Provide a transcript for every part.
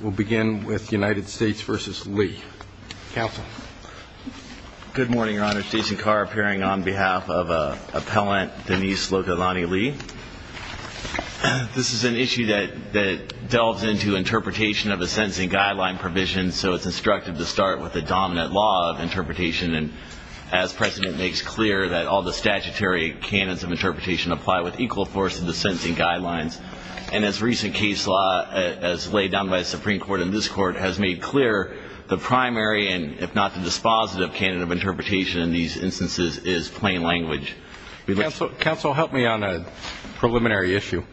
We'll begin with United States v. Lee. Counsel. Good morning, Your Honor. Jason Carr, appearing on behalf of Appellant Denise Locadani-Lee. This is an issue that delves into interpretation of a sentencing guideline provision, so it's instructive to start with the dominant law of interpretation. And as President makes clear, that all the statutory canons of interpretation apply with equal force to the sentencing guidelines. And as recent case law as laid down by the Supreme Court and this Court has made clear, the primary and if not the dispositive canon of interpretation in these instances is plain language. Counsel, help me on a preliminary issue.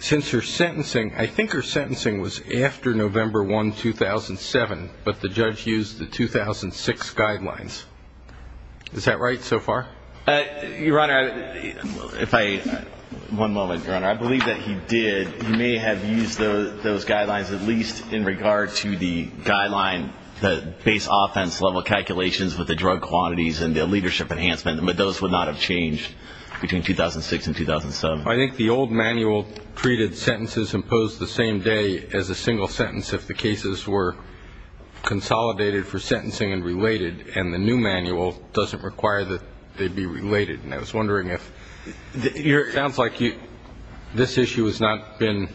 Since her sentencing, I think her sentencing was after November 1, 2007, but the judge used the 2006 guidelines. Is that right so far? Your Honor, if I ñ one moment, Your Honor. I believe that he did ñ he may have used those guidelines at least in regard to the guideline, the base offense level calculations with the drug quantities and the leadership enhancement, but those would not have changed between 2006 and 2007. I think the old manual treated sentences imposed the same day as a single sentence if the cases were consolidated for sentencing and related, and the new manual doesn't require that they be related. And I was wondering if ñ it sounds like this issue has not been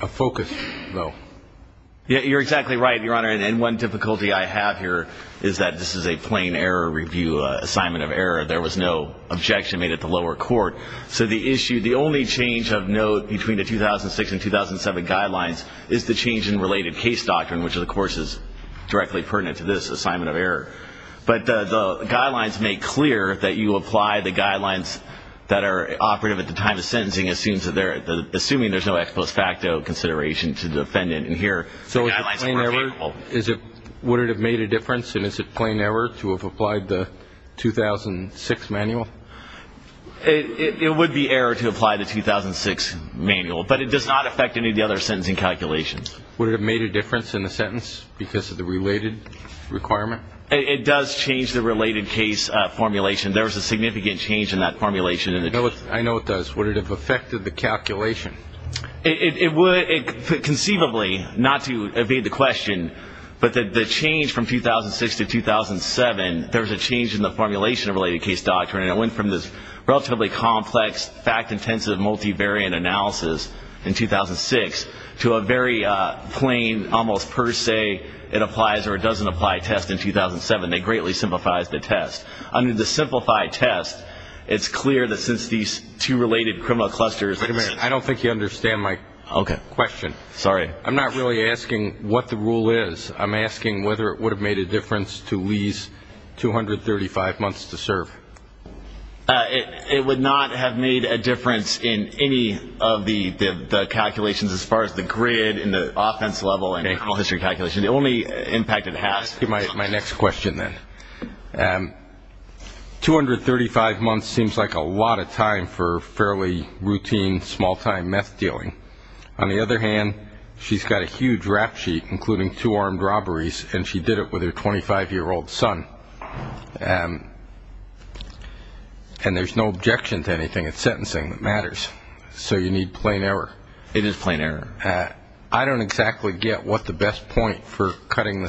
a focus, though. You're exactly right, Your Honor. And one difficulty I have here is that this is a plain error review, assignment of error. There was no objection made at the lower court. So the issue ñ the only change of note between the 2006 and 2007 guidelines is the change in related case doctrine, which, of course, is directly pertinent to this assignment of error. But the guidelines make clear that you apply the guidelines that are operative at the time of sentencing, assuming there's no ex post facto consideration to the defendant. And here the guidelines are more capable. So is it plain error? Would it have made a difference? And is it plain error to have applied the 2006 manual? It would be error to apply the 2006 manual, but it does not affect any of the other sentencing calculations. Would it have made a difference in the sentence because of the related requirement? It does change the related case formulation. There was a significant change in that formulation. I know it does. Would it have affected the calculation? It would conceivably, not to evade the question, but the change from 2006 to 2007, there was a change in the formulation of related case doctrine. It went from this relatively complex, fact-intensive multivariant analysis in 2006 to a very plain, almost per se, it applies or it doesn't apply test in 2007. It greatly simplifies the test. Under the simplified test, it's clear that since these two related criminal clusters. Wait a minute. I don't think you understand my question. Sorry. I'm not really asking what the rule is. I'm asking whether it would have made a difference to Lee's 235 months to serve. It would not have made a difference in any of the calculations as far as the grid and the offense level and criminal history calculations. The only impact it has. My next question then. 235 months seems like a lot of time for fairly routine, small-time meth dealing. On the other hand, she's got a huge rap sheet, including two armed robberies, and she did it with her 25-year-old son. And there's no objection to anything. It's sentencing that matters. So you need plain error. It is plain error. I don't exactly get what the best point for cutting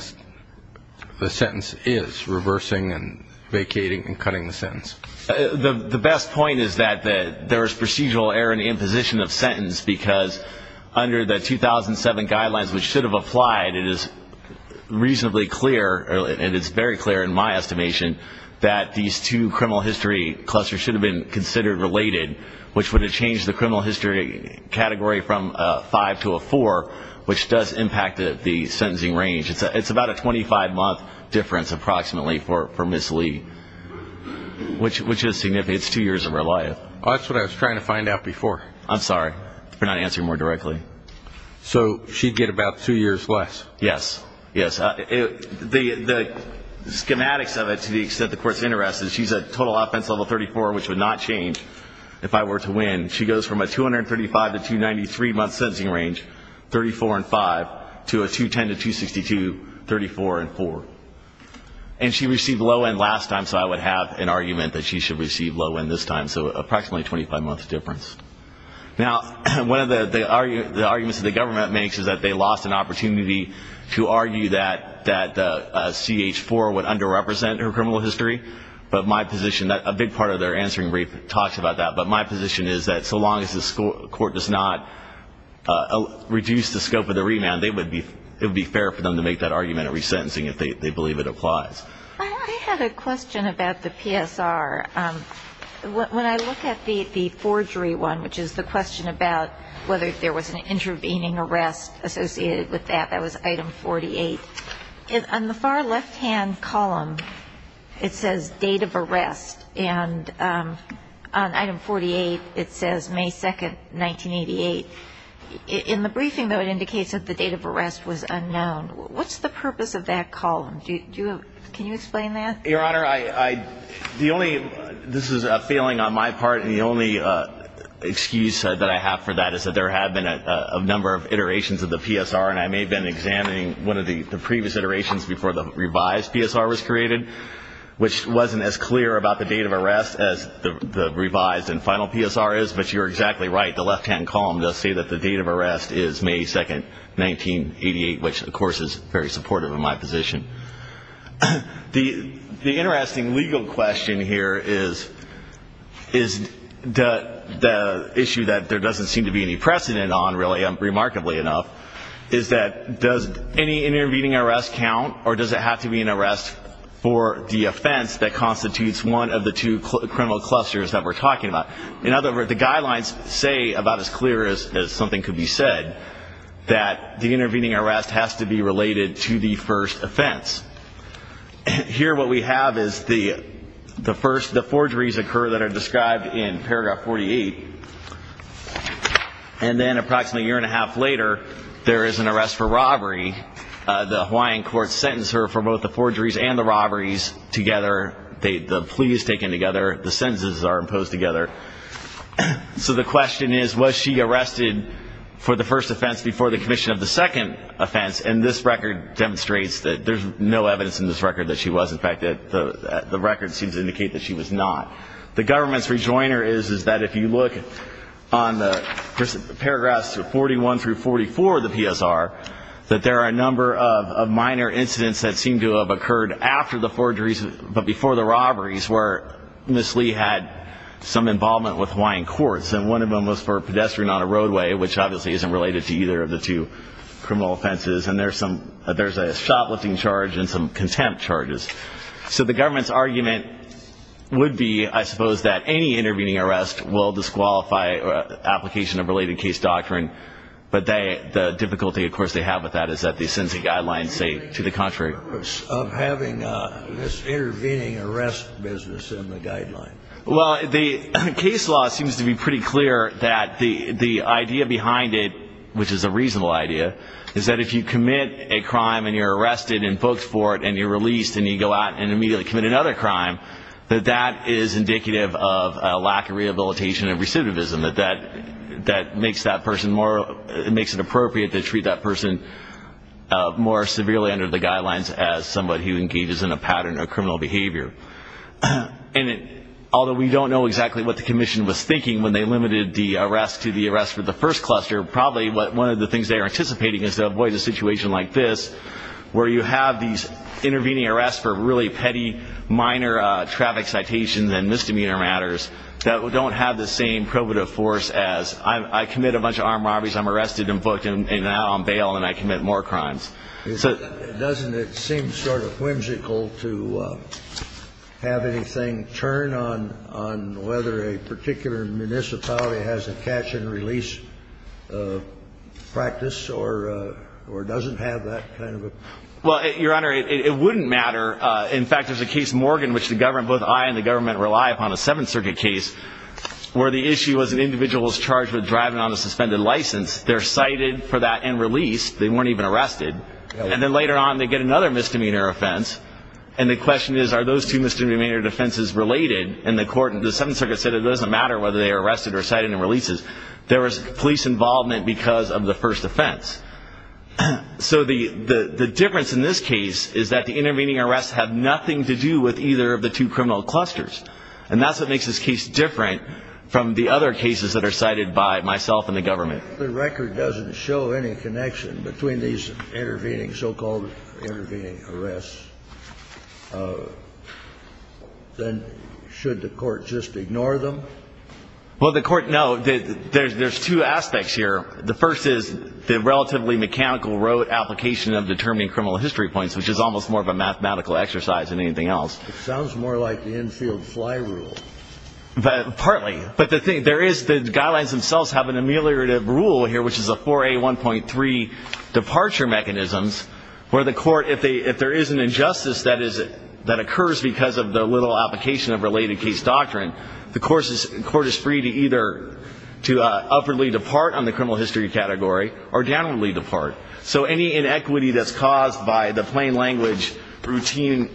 the sentence is, reversing and vacating and cutting the sentence. The best point is that there is procedural error in the imposition of sentence because under the 2007 guidelines, which should have applied, it is reasonably clear, and it's very clear in my estimation, that these two criminal history clusters should have been considered related, which would have changed the criminal history category from a 5 to a 4, which does impact the sentencing range. It's about a 25-month difference approximately for Ms. Lee, which is significant. It's two years of her life. That's what I was trying to find out before. I'm sorry for not answering more directly. So she'd get about two years less? Yes. Yes. The schematics of it, to the extent the Court's interested, she's a total offense level 34, which would not change if I were to win. She goes from a 235 to 293-month sentencing range, 34 and 5, to a 210 to 262, 34 and 4. And she received low end last time, so I would have an argument that she should receive low end this time, so approximately a 25-month difference. Now, one of the arguments that the government makes is that they lost an opportunity to argue that CH4 would underrepresent her criminal history, but my position, a big part of their answering brief talks about that, but my position is that so long as the Court does not reduce the scope of the remand, it would be fair for them to make that argument at resentencing if they believe it applies. I had a question about the PSR. When I look at the forgery one, which is the question about whether there was an intervening arrest associated with that, that was Item 48. On the far left-hand column, it says date of arrest, and on Item 48 it says May 2, 1988. In the briefing, though, it indicates that the date of arrest was unknown. What's the purpose of that column? Can you explain that? Your Honor, the only ñ this is a failing on my part, and the only excuse that I have for that is that there had been a number of iterations of the PSR, and I may have been examining one of the previous iterations before the revised PSR was created, which wasn't as clear about the date of arrest as the revised and final PSR is, but you're exactly right. The left-hand column does say that the date of arrest is May 2, 1988, which, of course, is very supportive of my position. The interesting legal question here is the issue that there doesn't seem to be any precedent on, remarkably enough, is that does any intervening arrest count, or does it have to be an arrest for the offense that constitutes one of the two criminal clusters that we're talking about? In other words, the guidelines say, about as clear as something could be said, that the intervening arrest has to be related to the first offense. Here what we have is the first, the forgeries occur that are described in Paragraph 48, and then approximately a year and a half later, there is an arrest for robbery. The Hawaiian courts sentence her for both the forgeries and the robberies together. The plea is taken together. The sentences are imposed together. So the question is, was she arrested for the first offense before the commission of the second offense? And this record demonstrates that there's no evidence in this record that she was. In fact, the record seems to indicate that she was not. The government's rejoiner is that if you look on the paragraphs 41 through 44 of the PSR, that there are a number of minor incidents that seem to have occurred after the forgeries but before the robberies where Ms. Lee had some involvement with Hawaiian courts, and one of them was for a pedestrian on a roadway, which obviously isn't related to either of the two criminal offenses, and there's a shoplifting charge and some contempt charges. So the government's argument would be, I suppose, that any intervening arrest will disqualify application of related case doctrine, but the difficulty, of course, they have with that is that they send a guideline, say, to the contrary. Of having this intervening arrest business in the guideline. Well, the case law seems to be pretty clear that the idea behind it, which is a reasonable idea, is that if you commit a crime and you're arrested and booked for it and you're released and you go out and immediately commit another crime, that that is indicative of a lack of rehabilitation and recidivism. That makes it appropriate to treat that person more severely under the guidelines as somebody who engages in a pattern of criminal behavior. And although we don't know exactly what the commission was thinking when they limited the arrest to the arrest for the first cluster, probably one of the things they are anticipating is to avoid a situation like this where you have these intervening arrests for really petty, minor traffic citations and misdemeanor matters that don't have the same probative force as I commit a bunch of armed robberies, I'm arrested and booked and now I'm bailed and I commit more crimes. Doesn't it seem sort of whimsical to have anything turn on whether a particular municipality has a catch-and-release practice or doesn't have that kind of a practice? Well, Your Honor, it wouldn't matter. In fact, there's a case, Morgan, which both I and the government rely upon, a Seventh Circuit case, where the issue was an individual was charged with driving on a suspended license. They're cited for that and released. They weren't even arrested. And then later on, they get another misdemeanor offense. And the question is, are those two misdemeanor offenses related in the court? And the Seventh Circuit said it doesn't matter whether they are arrested or cited and released. There was police involvement because of the first offense. So the difference in this case is that the intervening arrests have nothing to do with either of the two criminal clusters. And that's what makes this case different from the other cases that are cited by myself and the government. If the record doesn't show any connection between these intervening, so-called intervening arrests, then should the court just ignore them? Well, the court, no. There's two aspects here. The first is the relatively mechanical road application of determining criminal history points, which is almost more of a mathematical exercise than anything else. It sounds more like the infield fly rule. Partly. But the guidelines themselves have an ameliorative rule here, which is a 4A1.3 departure mechanisms, where the court, if there is an injustice that occurs because of the little application of related case doctrine, the court is free to either to upwardly depart on the criminal history category or downwardly depart. So any inequity that's caused by the plain language, routine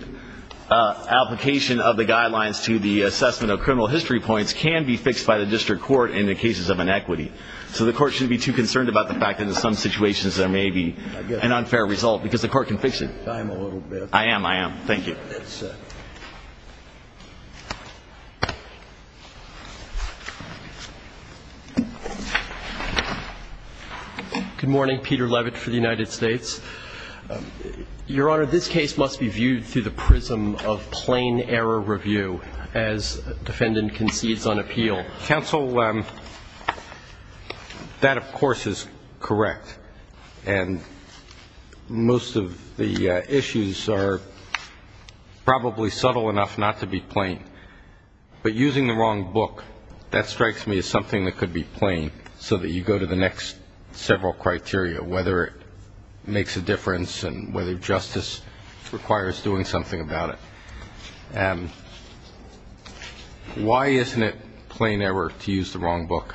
application of the guidelines to the assessment of criminal history points can be fixed by the district court in the cases of inequity. So the court shouldn't be too concerned about the fact that in some situations there may be an unfair result, because the court can fix it. I'm a little bit. I am. I am. Thank you. Good morning. Peter Levitt for the United States. Your Honor, this case must be viewed through the prism of plain error review as defendant concedes on appeal. Counsel, that, of course, is correct. And most of the issues are probably subtle enough not to be plain. But using the wrong book, that strikes me as something that could be plain so that you go to the next several criteria, whether it makes a difference and whether justice requires doing something about it. Why isn't it plain error to use the wrong book?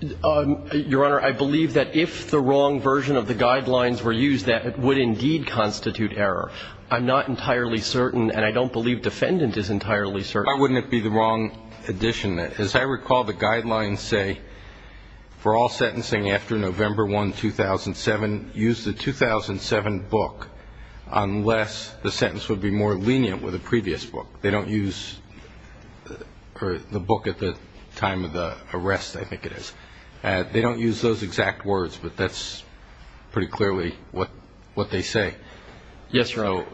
Your Honor, I believe that if the wrong version of the guidelines were used, that it would indeed constitute error. I'm not entirely certain, and I don't believe defendant is entirely certain. Why wouldn't it be the wrong edition? As I recall, the guidelines say for all sentencing after November 1, 2007, use the 2007 book unless the sentence would be more lenient with the previous book. They don't use the book at the time of the arrest, I think it is. They don't use those exact words, but that's pretty clearly what they say. Yes, Your Honor.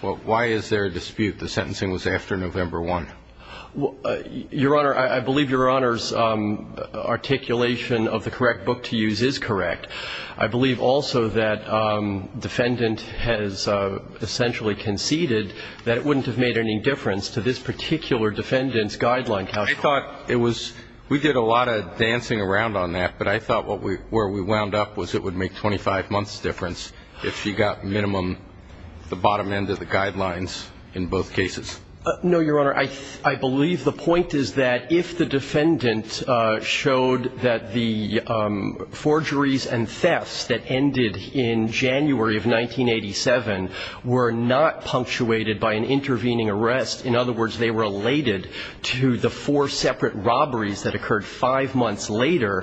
So why is there a dispute the sentencing was after November 1? Your Honor, I believe Your Honor's articulation of the correct book to use is correct. I believe also that defendant has essentially conceded that it wouldn't have made any difference to this particular defendant's guideline. I thought it was we did a lot of dancing around on that, but I thought where we wound up was it would make 25 months difference if she got minimum, the bottom end of the guidelines in both cases. No, Your Honor. I believe the point is that if the defendant showed that the forgeries and thefts that ended in January of 1987 were not punctuated by an intervening arrest, in other words, they were related to the four separate robberies that occurred five months later,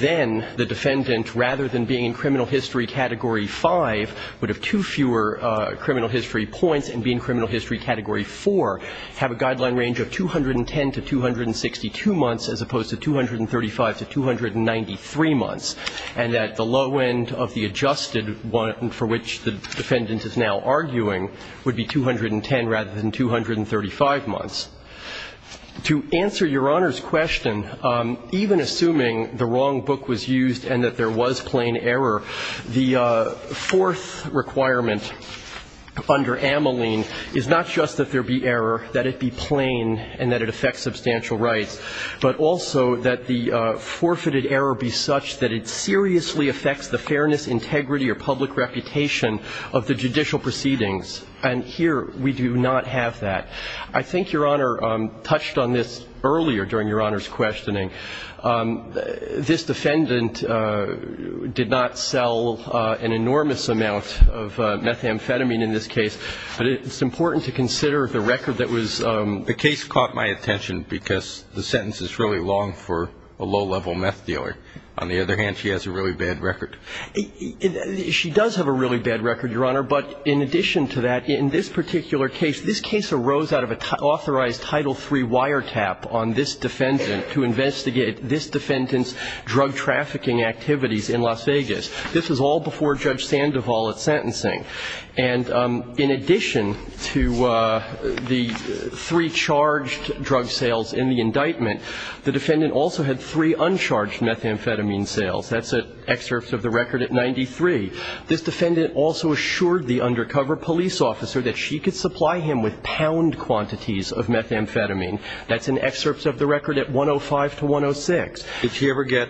then the defendant, rather than being in criminal history category 5, would have two fewer criminal history points and be in criminal history category 4, have a guideline range of 210 to 262 months as opposed to 235 to 293 months, and that the low end of the adjusted one for which the defendant is now arguing would be 210 rather than 235 months. To answer Your Honor's question, even assuming the wrong book was used and that there was plain error, the fourth requirement under Ameline is not just that there be error, that it be plain and that it affects substantial rights, but also that the forfeited error be such that it seriously affects the fairness, integrity or public reputation of the judicial proceedings, and here we do not have that. I think Your Honor touched on this earlier during Your Honor's questioning. This defendant did not sell an enormous amount of methamphetamine in this case, but it's important to consider the record that was ---- The case caught my attention because the sentence is really long for a low-level meth dealer. On the other hand, she has a really bad record. She does have a really bad record, Your Honor, but in addition to that, in this particular case, this case arose out of an authorized Title III wiretap on this defendant to investigate this defendant's drug trafficking activities in Las Vegas. This was all before Judge Sandoval at sentencing. And in addition to the three charged drug sales in the indictment, the defendant also had three uncharged methamphetamine sales. That's an excerpt of the record at 93. This defendant also assured the undercover police officer that she could supply him with pound quantities of methamphetamine. That's an excerpt of the record at 105 to 106. Did she ever get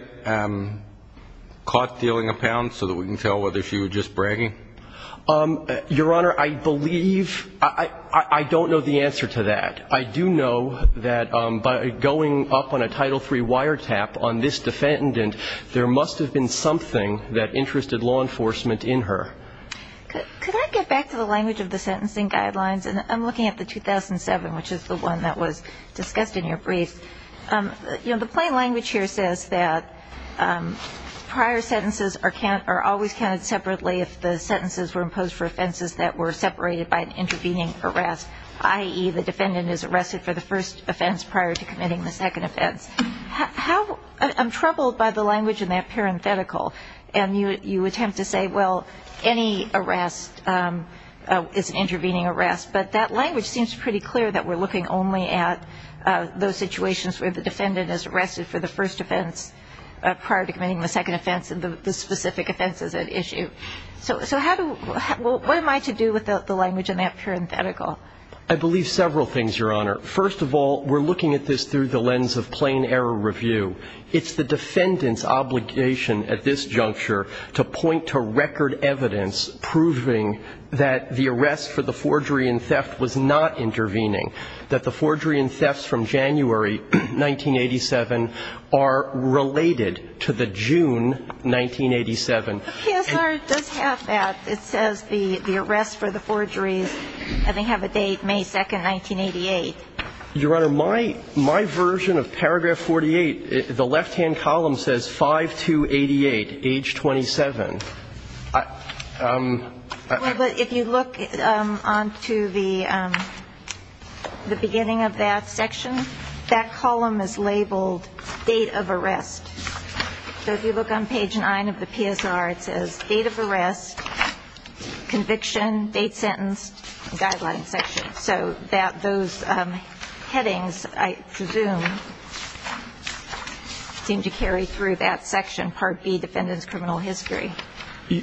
caught dealing a pound so that we can tell whether she was just bragging? Your Honor, I believe ---- I don't know the answer to that. I do know that by going up on a Title III wiretap on this defendant, there must have been something that interested law enforcement in her. Could I get back to the language of the sentencing guidelines? I'm looking at the 2007, which is the one that was discussed in your brief. The plain language here says that prior sentences are always counted separately if the sentences were imposed for offenses that were separated by an intervening arrest, i.e., the defendant is arrested for the first offense prior to committing the second offense. I'm troubled by the language in that parenthetical. And you attempt to say, well, any arrest is an intervening arrest. But that language seems pretty clear that we're looking only at those situations where the defendant is arrested for the first offense prior to committing the second offense and the specific offenses at issue. So what am I to do with the language in that parenthetical? I believe several things, Your Honor. First of all, we're looking at this through the lens of plain error review. It's the defendant's obligation at this juncture to point to record evidence proving that the arrest for the forgery and theft was not intervening, that the forgery and thefts from January 1987 are related to the June 1987. The PSR does have that. It says the arrest for the forgeries, I think, have a date, May 2, 1988. Your Honor, my version of paragraph 48, the left-hand column says 5-2-88, age 27. Well, but if you look on to the beginning of that section, that column is labeled date of arrest. So if you look on page 9 of the PSR, it says date of arrest, conviction, date sentenced, guideline section. So that those headings, I presume, seem to carry through that section, Part B, defendant's criminal history.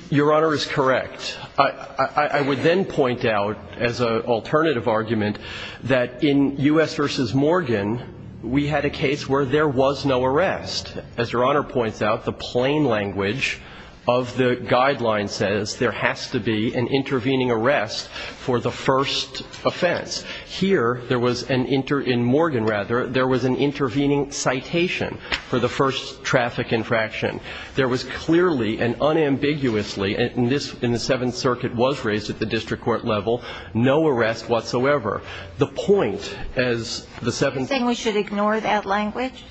Your Honor is correct. I would then point out as an alternative argument that in U.S. v. Morgan, we had a case where there was no arrest. As Your Honor points out, the plain language of the guideline says there has to be an intervening arrest for the first offense. Here, there was an inter-in Morgan, rather, there was an intervening citation for the first traffic infraction. There was clearly and unambiguously, and this in the Seventh Circuit was raised at the district court level, no arrest whatsoever. The point as the Seventh. Are you saying we should ignore that language?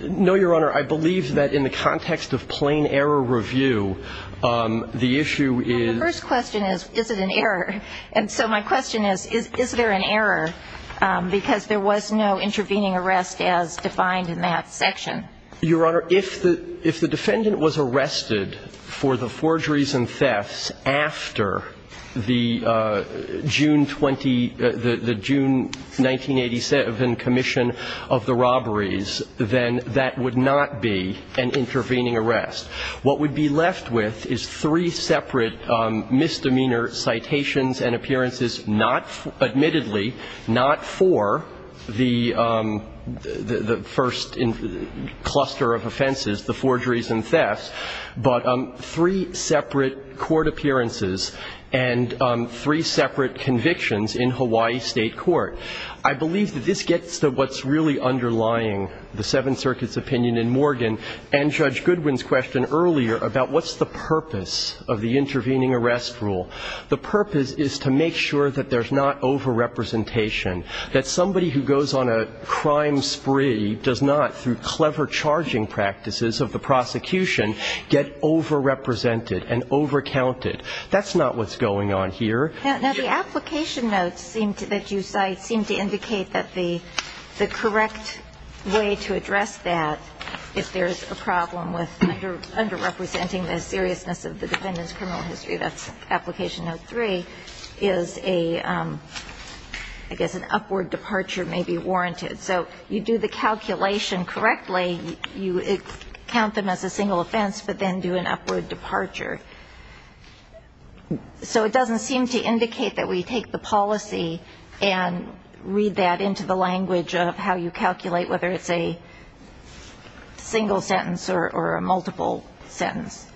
No, Your Honor. I believe that in the context of plain error review, the issue is. Well, the first question is, is it an error? And so my question is, is there an error because there was no intervening arrest as defined in that section? Your Honor, if the defendant was arrested for the forgeries and thefts after the June 1987 commission of the robberies, then that would not be an intervening arrest. What would be left with is three separate misdemeanor citations and appearances, admittedly not for the first cluster of offenses, the forgeries and thefts, but three separate court appearances and three separate convictions in Hawaii State Court. I believe that this gets to what's really underlying the Seventh Circuit's opinion in Morgan and Judge Goodwin's question earlier about what's the purpose of the intervening arrest rule. The purpose is to make sure that there's not over-representation, that somebody who goes on a crime spree does not, through clever charging practices of the prosecution, get over-represented and over-counted. That's not what's going on here. Now, the application notes that you cite seem to indicate that the correct way to address that, if there's a problem with under-representing the seriousness of the defendant's criminal history, that's application note three, is a, I guess an upward departure may be warranted. So you do the calculation correctly, you count them as a single offense, but then do an upward departure. So it doesn't seem to indicate that we take the policy and read that into the language of how you calculate whether it's a single sentence or a multiple sentence.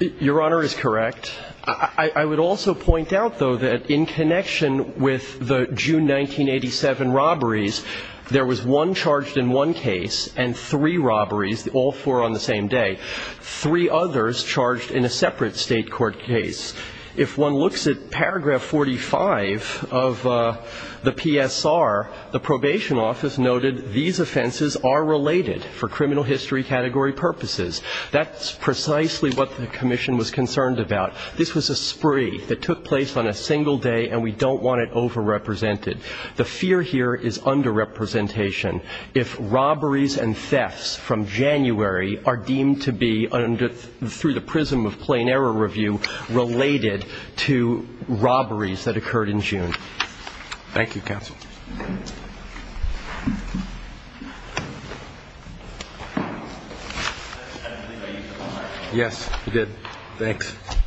Your Honor is correct. I would also point out, though, that in connection with the June 1987 robberies, there was one charged in one case and three robberies, all four on the same day. Three others charged in a separate state court case. If one looks at paragraph 45 of the PSR, the probation office noted these offenses are related for criminal history category purposes. That's precisely what the commission was concerned about. This was a spree that took place on a single day, and we don't want it over-represented. The fear here is under-representation. If robberies and thefts from January are deemed to be, through the prism of plain error review, related to robberies that occurred in June. Thank you, counsel. Yes, we did. Thanks.